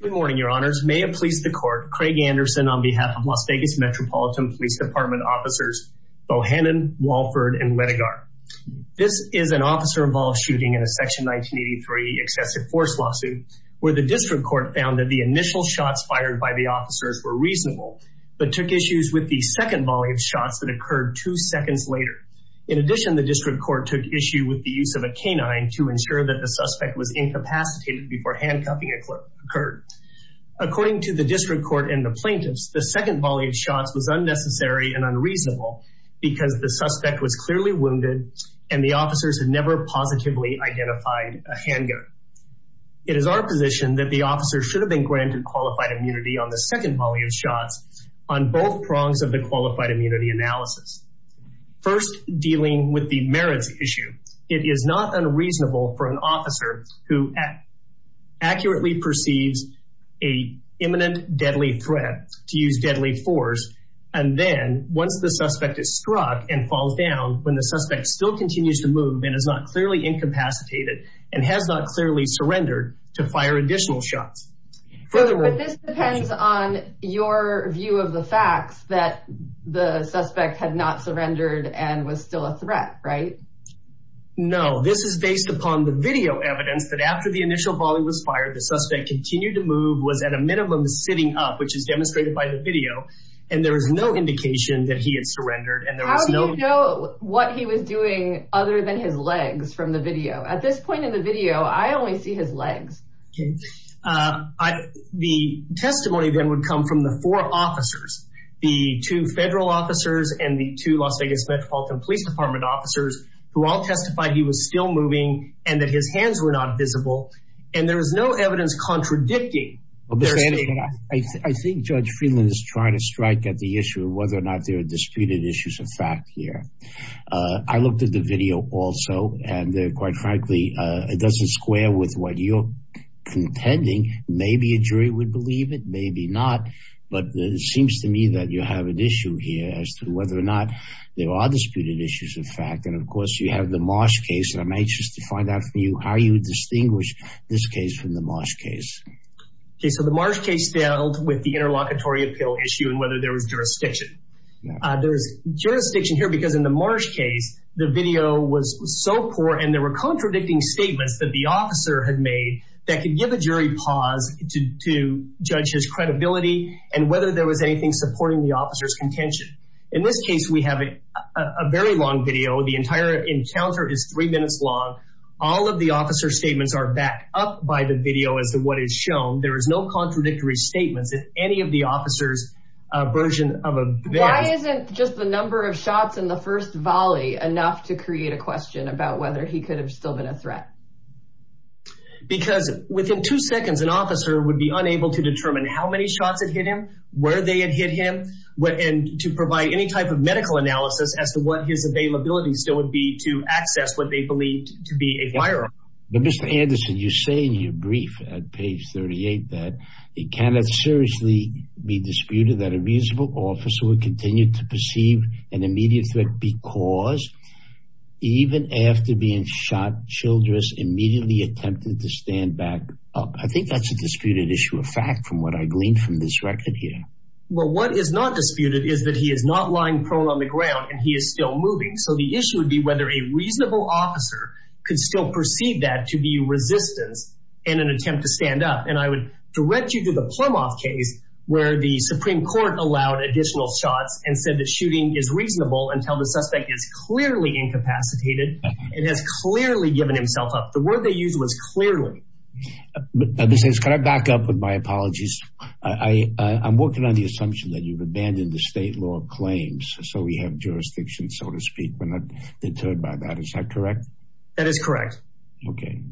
Good morning, your honors. May it please the court, Craig Anderson on behalf of Las Vegas Metropolitan Police Department officers Bohannon, Walford, and Letigar. This is an officer-involved shooting in a section 1983 excessive force lawsuit where the district court found that the initial shots fired by the officers were reasonable, but took issues with the second volley of shots that occurred two seconds later. In addition, the district court took issue with the use of a canine to ensure that the suspect was incapacitated before handcuffing a clerk. According to the district court and the plaintiffs, the second volley of shots was unnecessary and unreasonable because the suspect was clearly wounded and the officers had never positively identified a handgun. It is our position that the officer should have been granted qualified immunity on the second volley of shots on both prongs of the qualified immunity analysis. First, dealing with the merits issue, it is not unreasonable for an officer who accurately perceives a imminent deadly threat to use deadly force. And then once the suspect is struck and falls down, when the suspect still continues to move and is not clearly incapacitated and has not clearly surrendered to fire additional shots. But this depends on your view of the facts that the suspect had not surrendered and was still a threat, right? No, this is based upon the video evidence that after the initial volley was fired, the suspect continued to move, was at a minimum sitting up, which is demonstrated by the video. And there was no indication that he had surrendered. And there was no- How do you know what he was doing other than his legs from the video? At this point in the video, I only see his legs. The testimony then would come from the four officers, the two federal officers and the two Las Vegas Metropolitan Police Department officers, who all testified he was still moving and that his hands were not visible. And there was no evidence contradicting- I think Judge Friedland is trying to strike at the issue of whether or not there are disputed issues of fact here. I looked at the video also, and quite frankly, it doesn't square with what you're contending, maybe a jury would believe it, maybe not. But it seems to me that you have an issue here as to whether or not there are disputed issues of fact. And of course, you have the Marsh case. And I'm anxious to find out from you how you distinguish this case from the Marsh case. Okay. So the Marsh case dealt with the interlocutory appeal issue and whether there was jurisdiction. There was jurisdiction here because in the Marsh case, the video was so poor and there were contradicting statements that the officer had made that could give a jury pause to judge his credibility and whether there was anything supporting the officer's contention. In this case, we have a very long video. The entire encounter is three minutes long. All of the officer's statements are backed up by the video as to what is shown. There is no contradictory statements. If any of the officer's version of a- Why isn't just the number of shots in the first volley enough to create a question about whether he could have still been a threat? Because within two seconds, an officer would be unable to determine how many shots had hit him, where they had hit him, and to provide any type of medical analysis as to what his availability still would be to access what they believed to be a firearm. But Mr. Anderson, you say in your brief at page 38 that it cannot seriously be disputed that a musical officer would continue to perceive an immediate threat because even after being shot, Childress immediately attempted to stand back up. I think that's a disputed issue of fact from what I gleaned from this record here. Well, what is not disputed is that he is not lying prone on the ground and he is still moving. So the issue would be whether a reasonable officer could still perceive that to be resistance in an attempt to stand up. And I would direct you to the Plumoff case where the Supreme Court allowed additional shots and said that shooting is reasonable until the suspect is clearly incapacitated and has clearly given himself up. The word they used was clearly. But this is kind of back up with my apologies. I'm working on the assumption that you've abandoned the state law of claims. So we have jurisdiction, so to speak. We're not deterred by that. Is that correct? That is correct. Okay.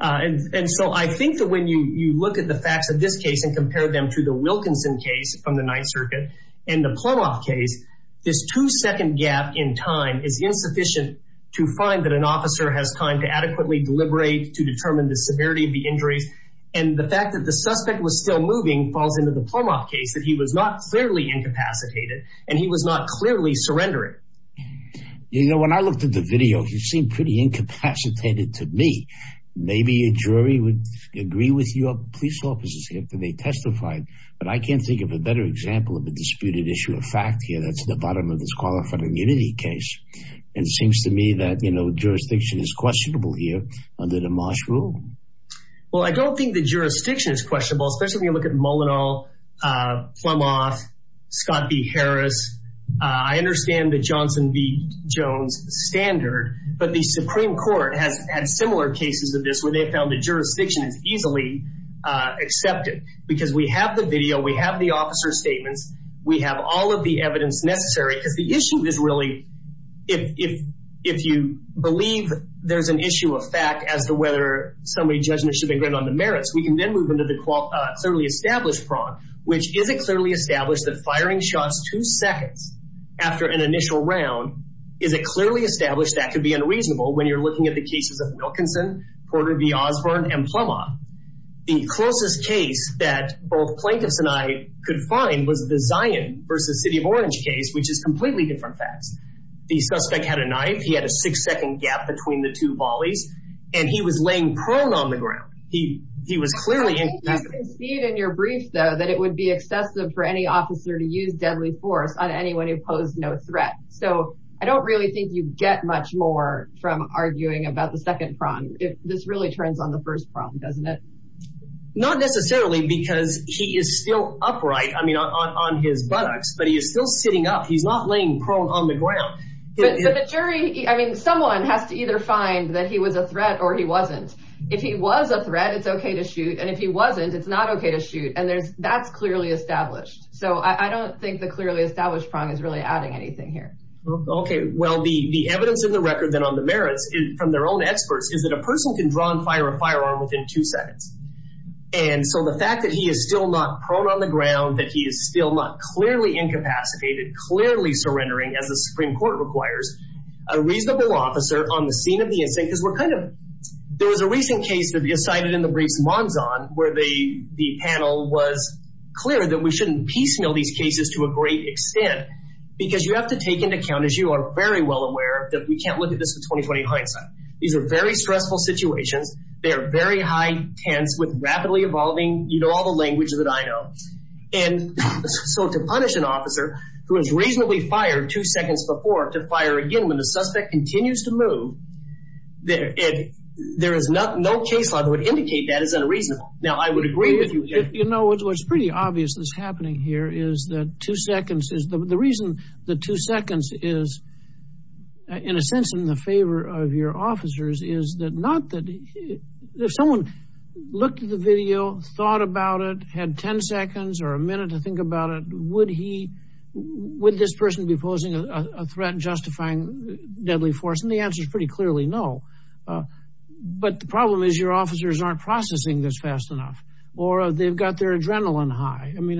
And so I think that when you look at the facts of this case and compare them to the Wilkinson case from the Ninth Circuit and the Plumoff case, this two second gap in time is insufficient to find that an officer has time to adequately deliberate to determine the severity of the injuries. And the fact that the suspect was still moving falls into the Plumoff case that he was not clearly incapacitated and he was not clearly surrendering. You know, when I looked at the video, he seemed pretty incapacitated to me. Maybe a jury would agree with you. Police officers have to be testified. But I can't think of a better example of a disputed issue of fact here. That's the bottom of this qualified immunity case. And it seems to me that, you know, jurisdiction is questionable here under the Marsh rule. Well, I don't think the jurisdiction is questionable, especially when you look at Molyneux, Plumoff, Scott v. Harris, I understand the Johnson v. Jones standard, but the Supreme Court has had similar cases of this where they found that jurisdiction is easily accepted because we have the video, we have the officer's statements, we have all of the evidence necessary because the issue is really, if you believe there's an issue of fact as to whether somebody's judgment should be granted on the merits, we can then move into the certainly established prong, which is it clearly established that firing shots two seconds after an initial round, is it clearly established that the suspect had a knife, he had a six second gap between the two volleys, and he was laying prone on the ground. He, he was clearly in your brief though, that it would be excessive for any officer to use deadly force on anyone who posed no threat. So I don't really think you get much more from arguing about the second prong. This really turns on the first prong, doesn't it? Not necessarily because he is still upright. I mean, on his buttocks, but he is still sitting up. He's not laying prone on the ground. But the jury, I mean, someone has to either find that he was a threat or he wasn't. If he was a threat, it's okay to shoot. And if he wasn't, it's not okay to shoot. And there's, that's clearly established. So I don't think the clearly established prong is really adding anything here. Okay. Well, the evidence in the record then on the merits from their own experts, is it that a person can draw and fire a firearm within two seconds. And so the fact that he is still not prone on the ground, that he is still not clearly incapacitated, clearly surrendering as the Supreme Court requires, a reasonable officer on the scene of the incident, because we're kind of, there was a recent case that you cited in the briefs Monzon, where the panel was clear that we shouldn't piecemeal these cases to a great extent, because you have to take into account, as you are very well aware, that we can't look at this with 20-20 hindsight. These are very stressful situations. They are very high tense with rapidly evolving, you know, all the language that I know. And so to punish an officer who has reasonably fired two seconds before to fire again, when the suspect continues to move, there is no case law that would indicate that is unreasonable. Now, I would agree with you. You know, what's pretty obvious that's happening here is that two seconds is, the reason the two seconds is, in a sense, in the favor of your officers, is that not that, if someone looked at the video, thought about it, had 10 seconds or a minute to think about it, would he, would this person be posing a threat justifying deadly force? And the answer is pretty clearly no. But the problem is your officers aren't processing this fast enough, or they've got their adrenaline high. I mean,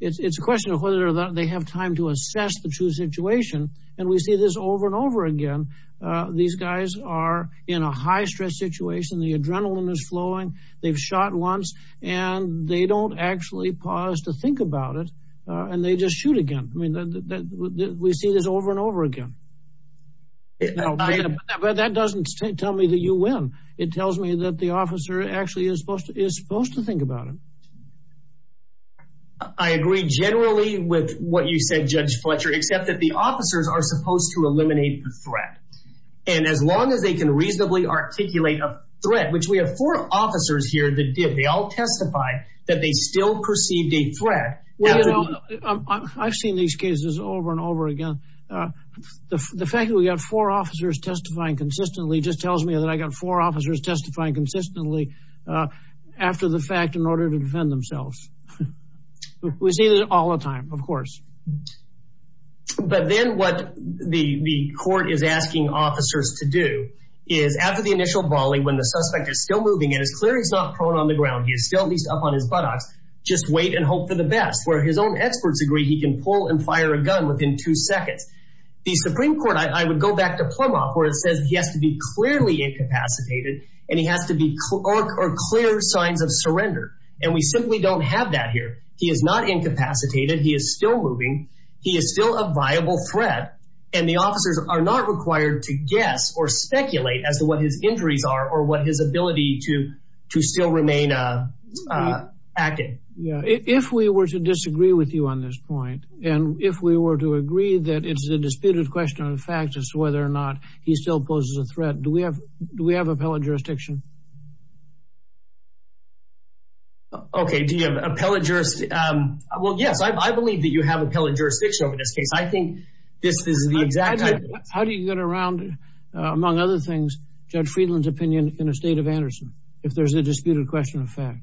it's a question of whether or not they have time to assess the true situation. And we see this over and over again. These guys are in a high stress situation. The adrenaline is flowing. They've shot once and they don't actually pause to think about it. And they just shoot again. I mean, we see this over and over again. But that doesn't tell me that you win. It tells me that the officer actually is supposed to think about it. I agree generally with what you said, Judge Fletcher, except that the officers are supposed to eliminate the threat. And as long as they can reasonably articulate a threat, which we have four officers here that did, they all testified that they still perceived a threat. Well, you know, I've seen these cases over and over again. The fact that we got four officers testifying consistently just tells me that I got four officers testifying consistently after the fact in order to defend themselves. We see that all the time, of course. But then what the court is asking officers to do is after the initial balling, when the suspect is still moving and it's clear he's not prone on the ground, he is still at least up on his buttocks, just wait and hope for the best where his own experts agree he can pull and fire a gun within two seconds. The Supreme Court, I would go back to Plumoff where it says he has to be clearly incapacitated and he has to be or clear signs of surrender. And we simply don't have that here. He is not incapacitated. He is still moving. He is still a viable threat. And the officers are not required to guess or speculate as to what his injuries are or what his ability to, to still remain active. Yeah. If we were to disagree with you on this point, and if we were to agree that it's a disputed question on the facts as to whether or not he still poses a threat, do we have, do we have appellate jurisdiction? Okay. Do you have appellate jurisdiction? Um, well, yes, I, I believe that you have appellate jurisdiction over this case. I think this is the exact. How do you get around, uh, among other things, Judge Friedland's opinion in the state of Anderson, if there's a disputed question of fact,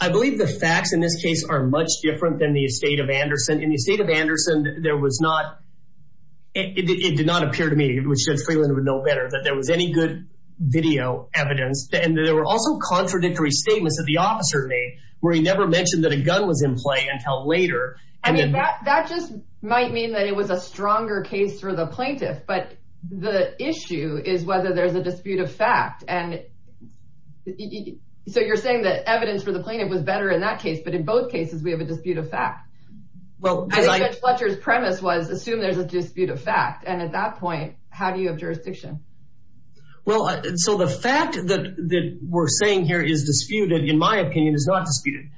I believe the facts in this case are much different than the state of Anderson. In the state of Anderson, there was not, it did not appear to me, which Judge Friedland would know better, that there was any good video evidence and that there were also contradictory statements that the officer made where he never mentioned that a gun was in play until later. I mean, that, that just might mean that it was a stronger case for the plaintiff, but the issue is whether there's a dispute of fact. And so you're saying that evidence for the plaintiff was better in that case, but in both cases, we have a dispute of fact, as Judge Fletcher's premise was assume there's a dispute of fact. And at that point, how do you have jurisdiction? Well, so the fact that, that we're saying here is disputed, in my opinion, is not disputed.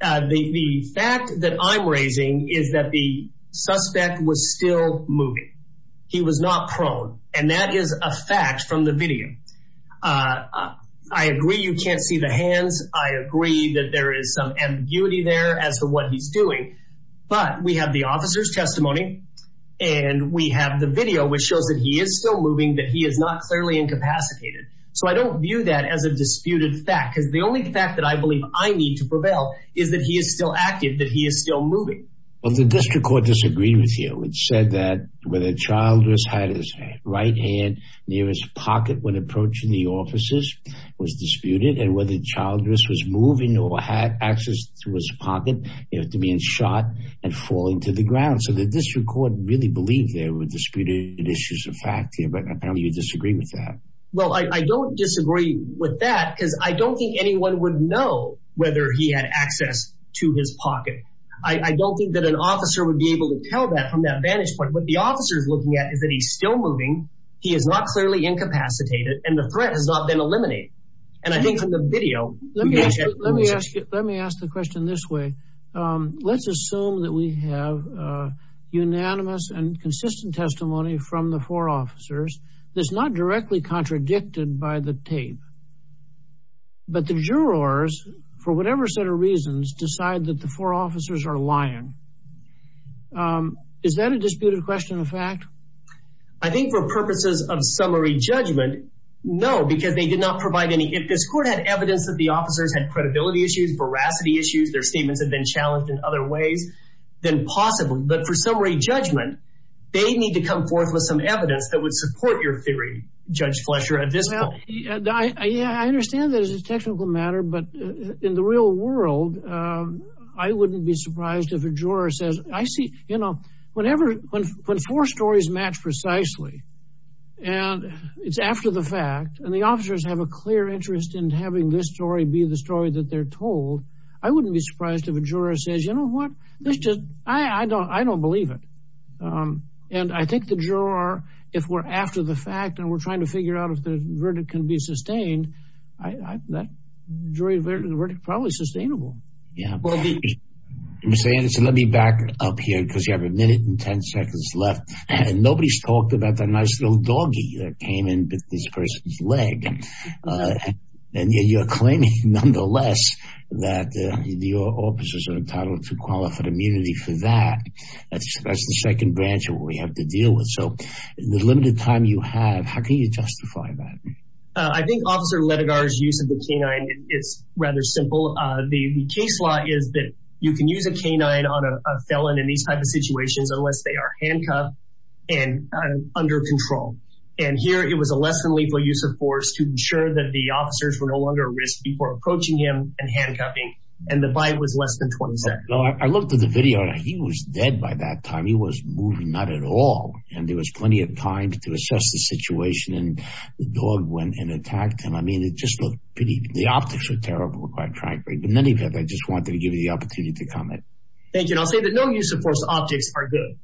Uh, the, the fact that I'm raising is that the suspect was still moving. He was not prone. And that is a fact from the video. Uh, I agree you can't see the hands. I agree that there is some ambiguity there as to what he's doing, but we have the officer's testimony and we have the video, which shows that he is still moving, that he is not clearly incapacitated. So I don't view that as a disputed fact. Cause the only fact that I believe I need to prevail is that he is still active, that he is still moving. Well, the district court disagreed with you. It said that whether Childress had his right hand near his pocket when approaching the officers was disputed and whether Childress was moving or had access to his pocket, you know, to being shot and falling to the ground. So the district court really believed there were disputed issues of fact here. But I know you disagree with that. Well, I don't disagree with that because I don't think anyone would know whether he had access to his pocket. I don't think that an officer would be able to tell that from that vantage point. What the officer's looking at is that he's still moving. He is not clearly incapacitated and the threat has not been eliminated. And I think from the video. Let me ask you, let me ask you, let me ask the question this way. Um, let's assume that we have a unanimous and consistent testimony from the four officers. That's not directly contradicted by the tape, but the jurors, for whatever set of reasons, decide that the four officers are lying. Um, is that a disputed question of fact? I think for purposes of summary judgment, no, because they did not provide any, if this court had evidence that the officers had credibility issues, veracity issues, their statements had been challenged in other ways than possibly, but for summary judgment, they need to come forth with some evidence that would support your theory, Judge Fletcher, at this point. I understand that as a technical matter, but in the real world, um, I wouldn't be surprised if a juror says, I see, you know, whenever, when, when four stories match precisely and it's after the fact, and the officers have a clear interest in having this story be the story that they're told, I wouldn't be surprised if a juror says, you know what? That's just, I, I don't, I don't believe it. Um, and I think the juror, if we're after the fact and we're trying to figure out if the verdict can be sustained, I, that jury verdict is probably sustainable. Yeah. I'm saying, so let me back up here because you have a minute and 10 seconds left and nobody's talked about that nice little doggy that came in with this person's leg, uh, and you're claiming nonetheless that, uh, your officers are qualified immunity for that. That's, that's the second branch of what we have to deal with. So the limited time you have, how can you justify that? Uh, I think officer Letigar's use of the canine, it's rather simple. Uh, the case law is that you can use a canine on a felon in these types of situations, unless they are handcuffed and under control. And here it was a less than lethal use of force to ensure that the officers were no longer at risk before approaching him and handcuffing. And the bite was less than 20 seconds. No, I looked at the video and he was dead by that time. He was moving, not at all. And there was plenty of time to assess the situation. And the dog went and attacked him. I mean, it just looked pretty, the optics were terrible, quite frankly. But in any event, I just wanted to give you the opportunity to comment. Thank you. And I'll say that no use of force optics are good.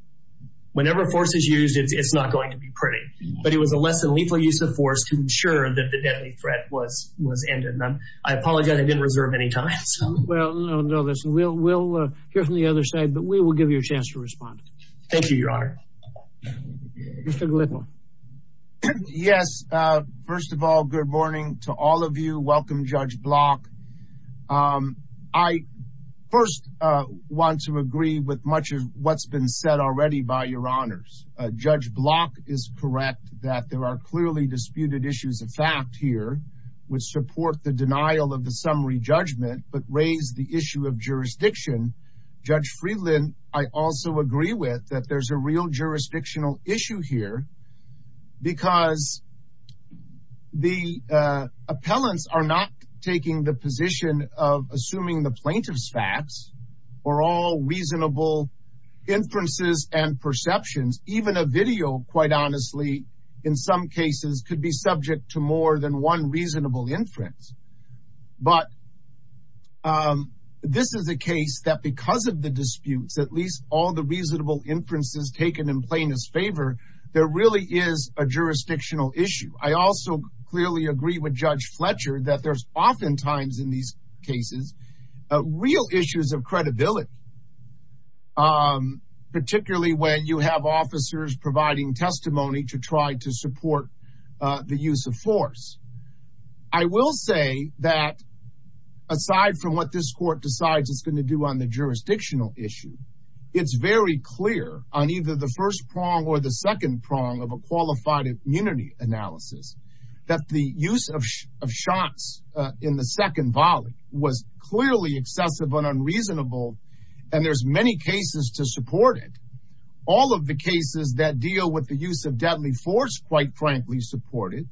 Whenever force is used, it's not going to be pretty, but it was a less than lethal use of force to ensure that the deadly threat was, was ended. And I'm, I apologize. I didn't reserve any time. Well, no, no, listen, we'll, we'll hear from the other side, but we will give you a chance to respond. Thank you, Your Honor. Yes. Uh, first of all, good morning to all of you. Welcome Judge Block. Um, I first, uh, want to agree with much of what's been said already by Your Honors. Uh, Judge Block is correct that there are clearly disputed issues of fact which support the denial of the summary judgment, but raise the issue of jurisdiction. Judge Freeland, I also agree with that there's a real jurisdictional issue here because the, uh, appellants are not taking the position of assuming the plaintiff's facts or all reasonable inferences and perceptions. Even a video, quite honestly, in some cases could be subject to more than one reasonable inference. But, um, this is a case that because of the disputes, at least all the reasonable inferences taken in plaintiff's favor, there really is a jurisdictional issue. I also clearly agree with Judge Fletcher that there's oftentimes in these cases, uh, real issues of credibility. Um, particularly when you have officers providing testimony to try to support, uh, the use of force. I will say that aside from what this court decides it's going to do on the jurisdictional issue, it's very clear on either the first prong or the second prong of a qualified immunity analysis that the use of shots in the second volley was clearly excessive and unreasonable, and there's many cases to support it. All of the cases that deal with the use of deadly force, quite frankly, support it.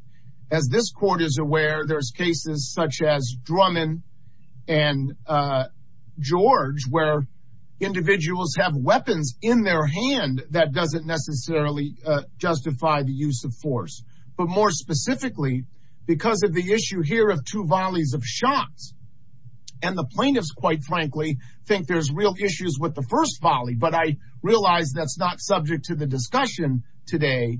As this court is aware, there's cases such as Drummond and, uh, George where individuals have weapons in their hand that doesn't necessarily, uh, justify the use of force. But more specifically, because of the issue here of two volleys of shots and the plaintiffs, quite frankly, think there's real issues with the that's not subject to the discussion today.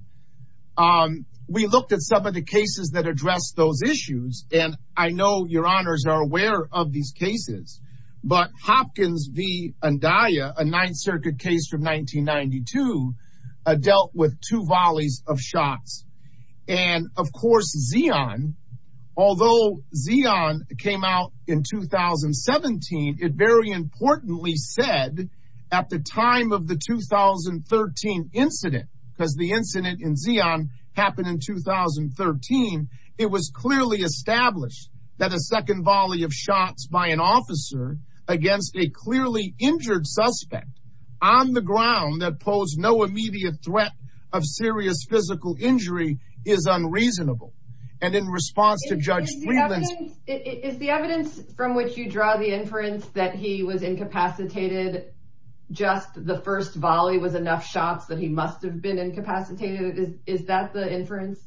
Um, we looked at some of the cases that address those issues, and I know your honors are aware of these cases, but Hopkins v. Andaya, a Ninth Circuit case from 1992, uh, dealt with two volleys of shots. And of course, Zeon, although Zeon came out in 2017, it very importantly said at the time of the 2013 incident, because the incident in Zeon happened in 2013, it was clearly established that a second volley of shots by an officer against a clearly injured suspect on the ground that posed no immediate threat of serious physical injury is unreasonable. And in response to Judge Freeland's- Is the evidence from which you draw the inference that he was incapacitated, just the first volley was enough shots that he must have been incapacitated? Is that the inference?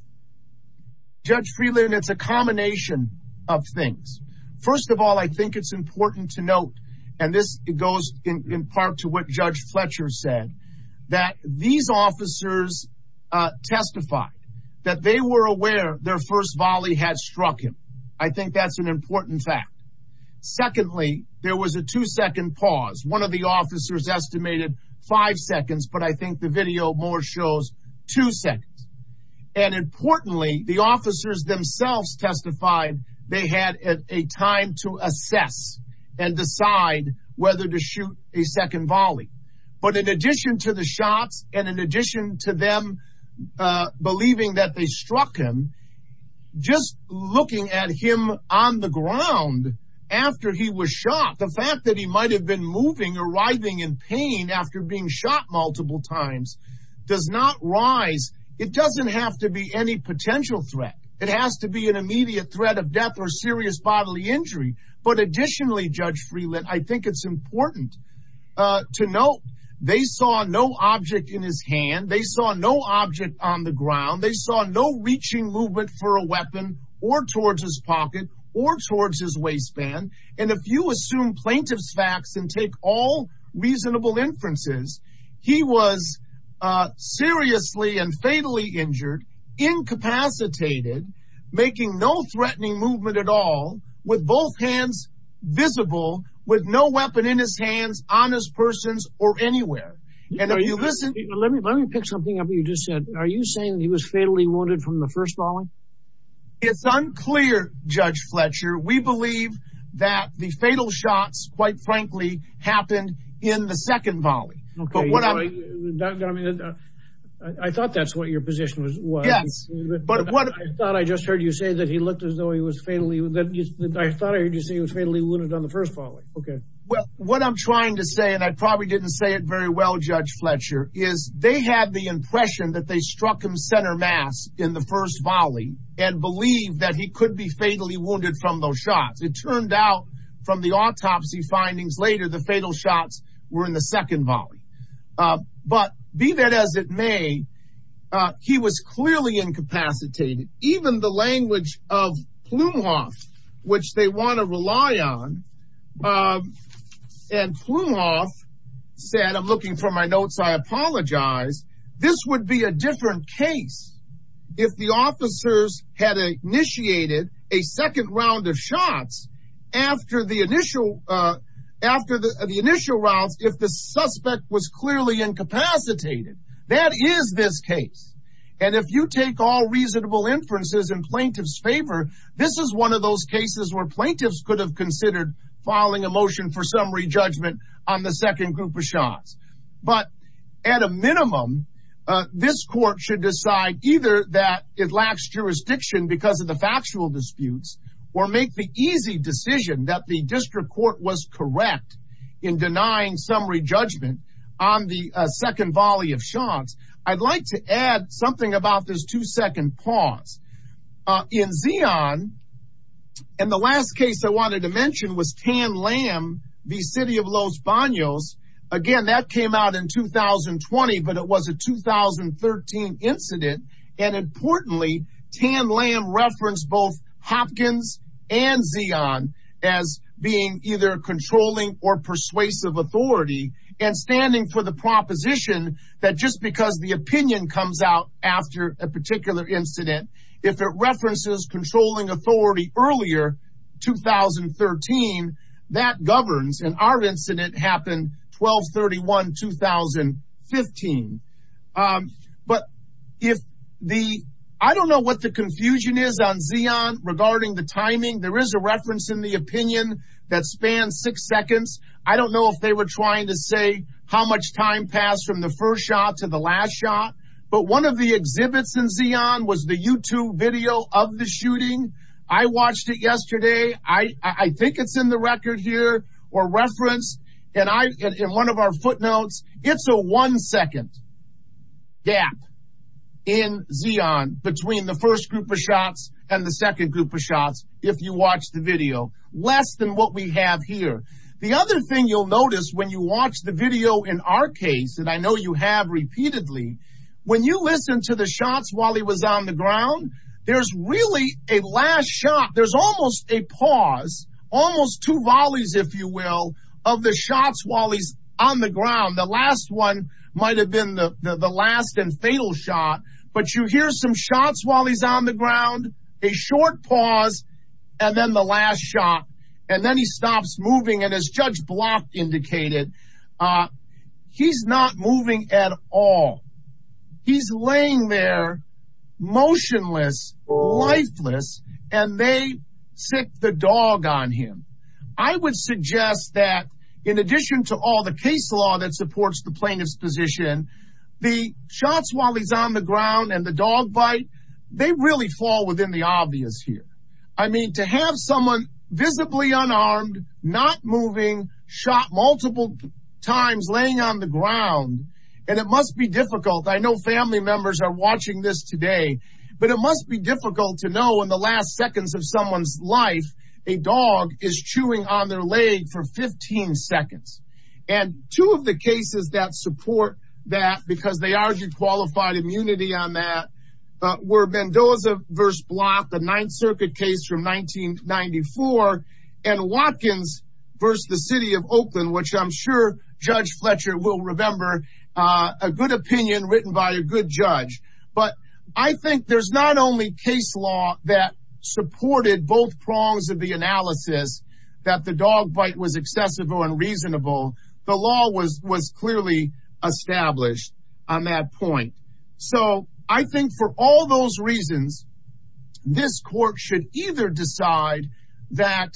Judge Freeland, it's a combination of things. First of all, I think it's important to note, and this goes in part to what Judge Fletcher said, that these officers, uh, testified that they were aware their first volley had struck him. I think that's an important fact. Secondly, there was a two second pause. One of the officers estimated five seconds, but I think the video more shows two seconds. And importantly, the officers themselves testified they had a time to assess and decide whether to shoot a second volley. But in addition to the shots and in addition to them, uh, believing that they struck him, just looking at him on the ground after he was shot, the fact that he might've been moving or writhing in pain after being shot multiple times does not rise. It doesn't have to be any potential threat. It has to be an immediate threat of death or serious bodily injury. But additionally, Judge Freeland, I think it's important, uh, to note they saw no object in his hand. They saw no object on the ground. They saw no reaching movement for a weapon or towards his pocket or towards his waistband. And if you assume plaintiff's facts and take all reasonable inferences, he was, uh, seriously and fatally injured, incapacitated, making no threatening movement at all with both hands. Visible with no weapon in his hands, on his persons or anywhere. And if you listen, let me, let me pick something up. You just said, are you saying that he was fatally wounded from the first volley? It's unclear, Judge Fletcher. We believe that the fatal shots quite frankly happened in the second volley. Okay. But what I mean, I thought that's what your position was. Yes, but what I thought, I just heard you say that he looked as though he was fatally, I thought I heard you say he was fatally wounded on the first volley. Okay. Well, what I'm trying to say, and I probably didn't say it very well, Judge Fletcher, is they had the impression that they struck him center mass in the first volley and believe that he could be fatally wounded from those shots. It turned out from the autopsy findings later, the fatal shots were in the second volley, uh, but be that as it may, uh, he was clearly incapacitated, even the language of Plumhoff, which they want to rely on. Um, and Plumhoff said, I'm looking for my notes. I apologize. This would be a different case if the officers had initiated a second round of shots after the initial, uh, after the initial rounds, if the suspect was clearly incapacitated, that is this case. And if you take all reasonable inferences in plaintiff's favor, this is one of those cases where plaintiffs could have considered filing a motion for summary judgment on the second group of shots. But at a minimum, uh, this court should decide either that it lacks jurisdiction because of the factual disputes or make the easy decision that the district court was correct in denying summary judgment on the second volley of shots. I'd like to add something about this two second pause. Uh, in Zeon, and the last case I wanted to mention was Tan Lam v. City of Los Banos. Again, that came out in 2020, but it was a 2013 incident. And importantly, Tan Lam referenced both Hopkins and Zeon as being either controlling or persuasive authority and standing for the proposition that just because the opinion comes out after a particular incident, if it references controlling authority earlier, 2013, that governs, and our incident happened 1231, 2015, um, but if the, I don't know what the confusion is on Zeon regarding the timing, there is a reference in the opinion that spans six seconds. I don't know if they were trying to say how much time passed from the first shot to the last shot, but one of the exhibits in Zeon was the YouTube video of the shooting. I watched it yesterday. I think it's in the record here or reference. And I, in one of our footnotes, it's a one second gap in Zeon between the first group of shots and the second group of shots. If you watch the video less than what we have here. The other thing you'll notice when you watch the video in our case, and I know you have repeatedly, when you listen to the shots while he was on the ground, there's really a last shot. There's almost a pause, almost two volleys, if you will, of the shots while he's on the ground. The last one might've been the last and fatal shot, but you hear some shots while he's on the ground, a short pause, and then the last shot, and then he stops moving. And as Judge Block indicated, he's not moving at all. He's laying there motionless, lifeless, and they sick the dog on him. I would suggest that in addition to all the case law that supports the plaintiff's position, the shots while he's on the ground and the dog bite, they really fall within the obvious here. I mean, to have someone visibly unarmed, not moving, shot multiple times, laying on the ground, and it must be difficult. I know family members are watching this today, but it must be difficult to know in the last seconds of someone's life, a dog is chewing on their leg for 15 seconds. And two of the cases that support that, because they argue qualified immunity on that, were Mendoza versus Block, the Ninth Circuit case from 1994, and Watkins versus the City of Oakland, which I'm sure Judge Fletcher will remember, a good opinion written by a good judge. But I think there's not only case law that supported both prongs of the analysis that the dog bite was accessible and reasonable. The law was clearly established on that point. So I think for all those reasons, this court should either decide that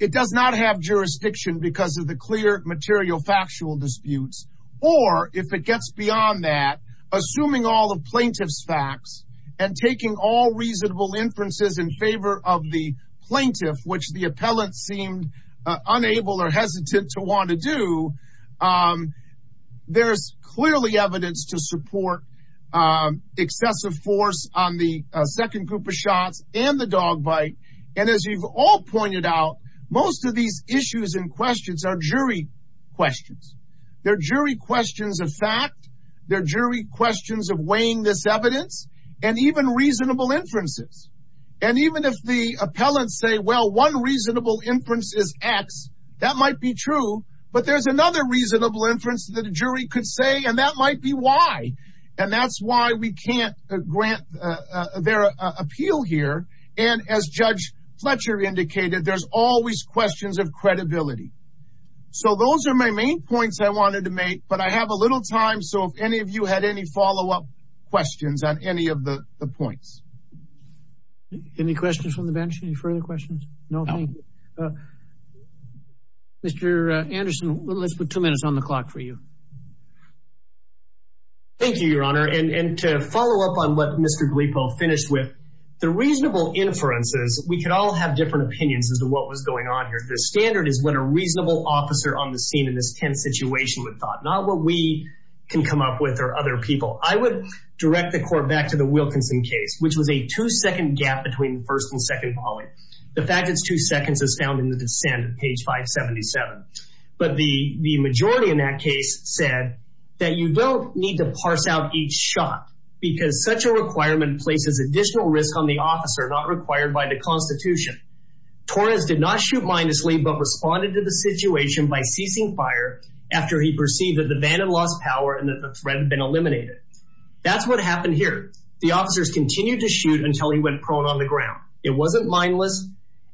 it does not have jurisdiction because of the clear material factual disputes, or if it gets beyond that, assuming all of plaintiff's facts and taking all reasonable inferences in favor of the plaintiff, which the appellant seemed unable or hesitant to want to do, there's clearly evidence to support excessive force on the second group of shots and the dog bite. And as you've all pointed out, most of these issues and questions are jury questions. There are jury questions of fact, there are jury questions of weighing this evidence, and even reasonable inferences. And even if the appellants say, well, one reasonable inference is X, that might be true. But there's another reasonable inference that a jury could say, and that might be why. And that's why we can't grant their appeal here. And as Judge Fletcher indicated, there's always questions of credibility. So those are my main points I wanted to make, but I have a little time. So if any of you had any follow up questions on any of the points. Any questions from the bench, any further questions? No, thank you. Mr. Anderson, let's put two minutes on the clock for you. Thank you, Your Honor, and to follow up on what Mr. Glippo finished with, the reasonable inferences, we can all have different opinions as to what was going on here. The standard is what a reasonable officer on the scene in this tense situation would thought, not what we can come up with or other people. I would direct the court back to the Wilkinson case, which was a two second gap between first and second volume. The fact it's two seconds is found in the dissent of page 577. But the majority in that case said that you don't need to parse out each shot because such a requirement places additional risk on the officer, not required by the Constitution. Torres did not shoot mindlessly, but responded to the situation by ceasing fire after he perceived that the van had lost power and that the threat had been eliminated. That's what happened here. The officers continued to shoot until he went prone on the ground. It wasn't mindless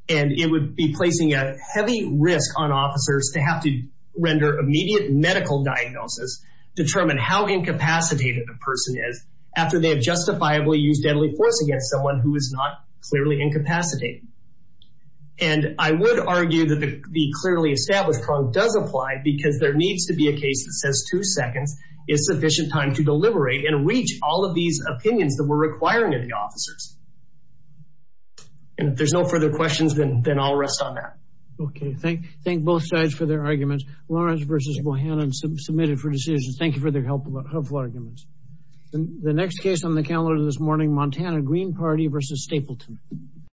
and it would be placing a heavy risk on officers to have to render immediate medical diagnosis, determine how incapacitated the person is after they have justifiably used deadly force against someone who is not clearly incapacitated. And I would argue that the clearly established prong does apply because there needs to be a case that says two seconds is sufficient time to deliberate and reach all of these opinions that we're requiring of the officers. And if there's no further questions, then I'll rest on that. OK, thank thank both sides for their arguments. Lawrence versus Bohannon submitted for decisions. Thank you for their helpful, helpful arguments. The next case on the calendar this morning, Montana Green Party versus Stapleton.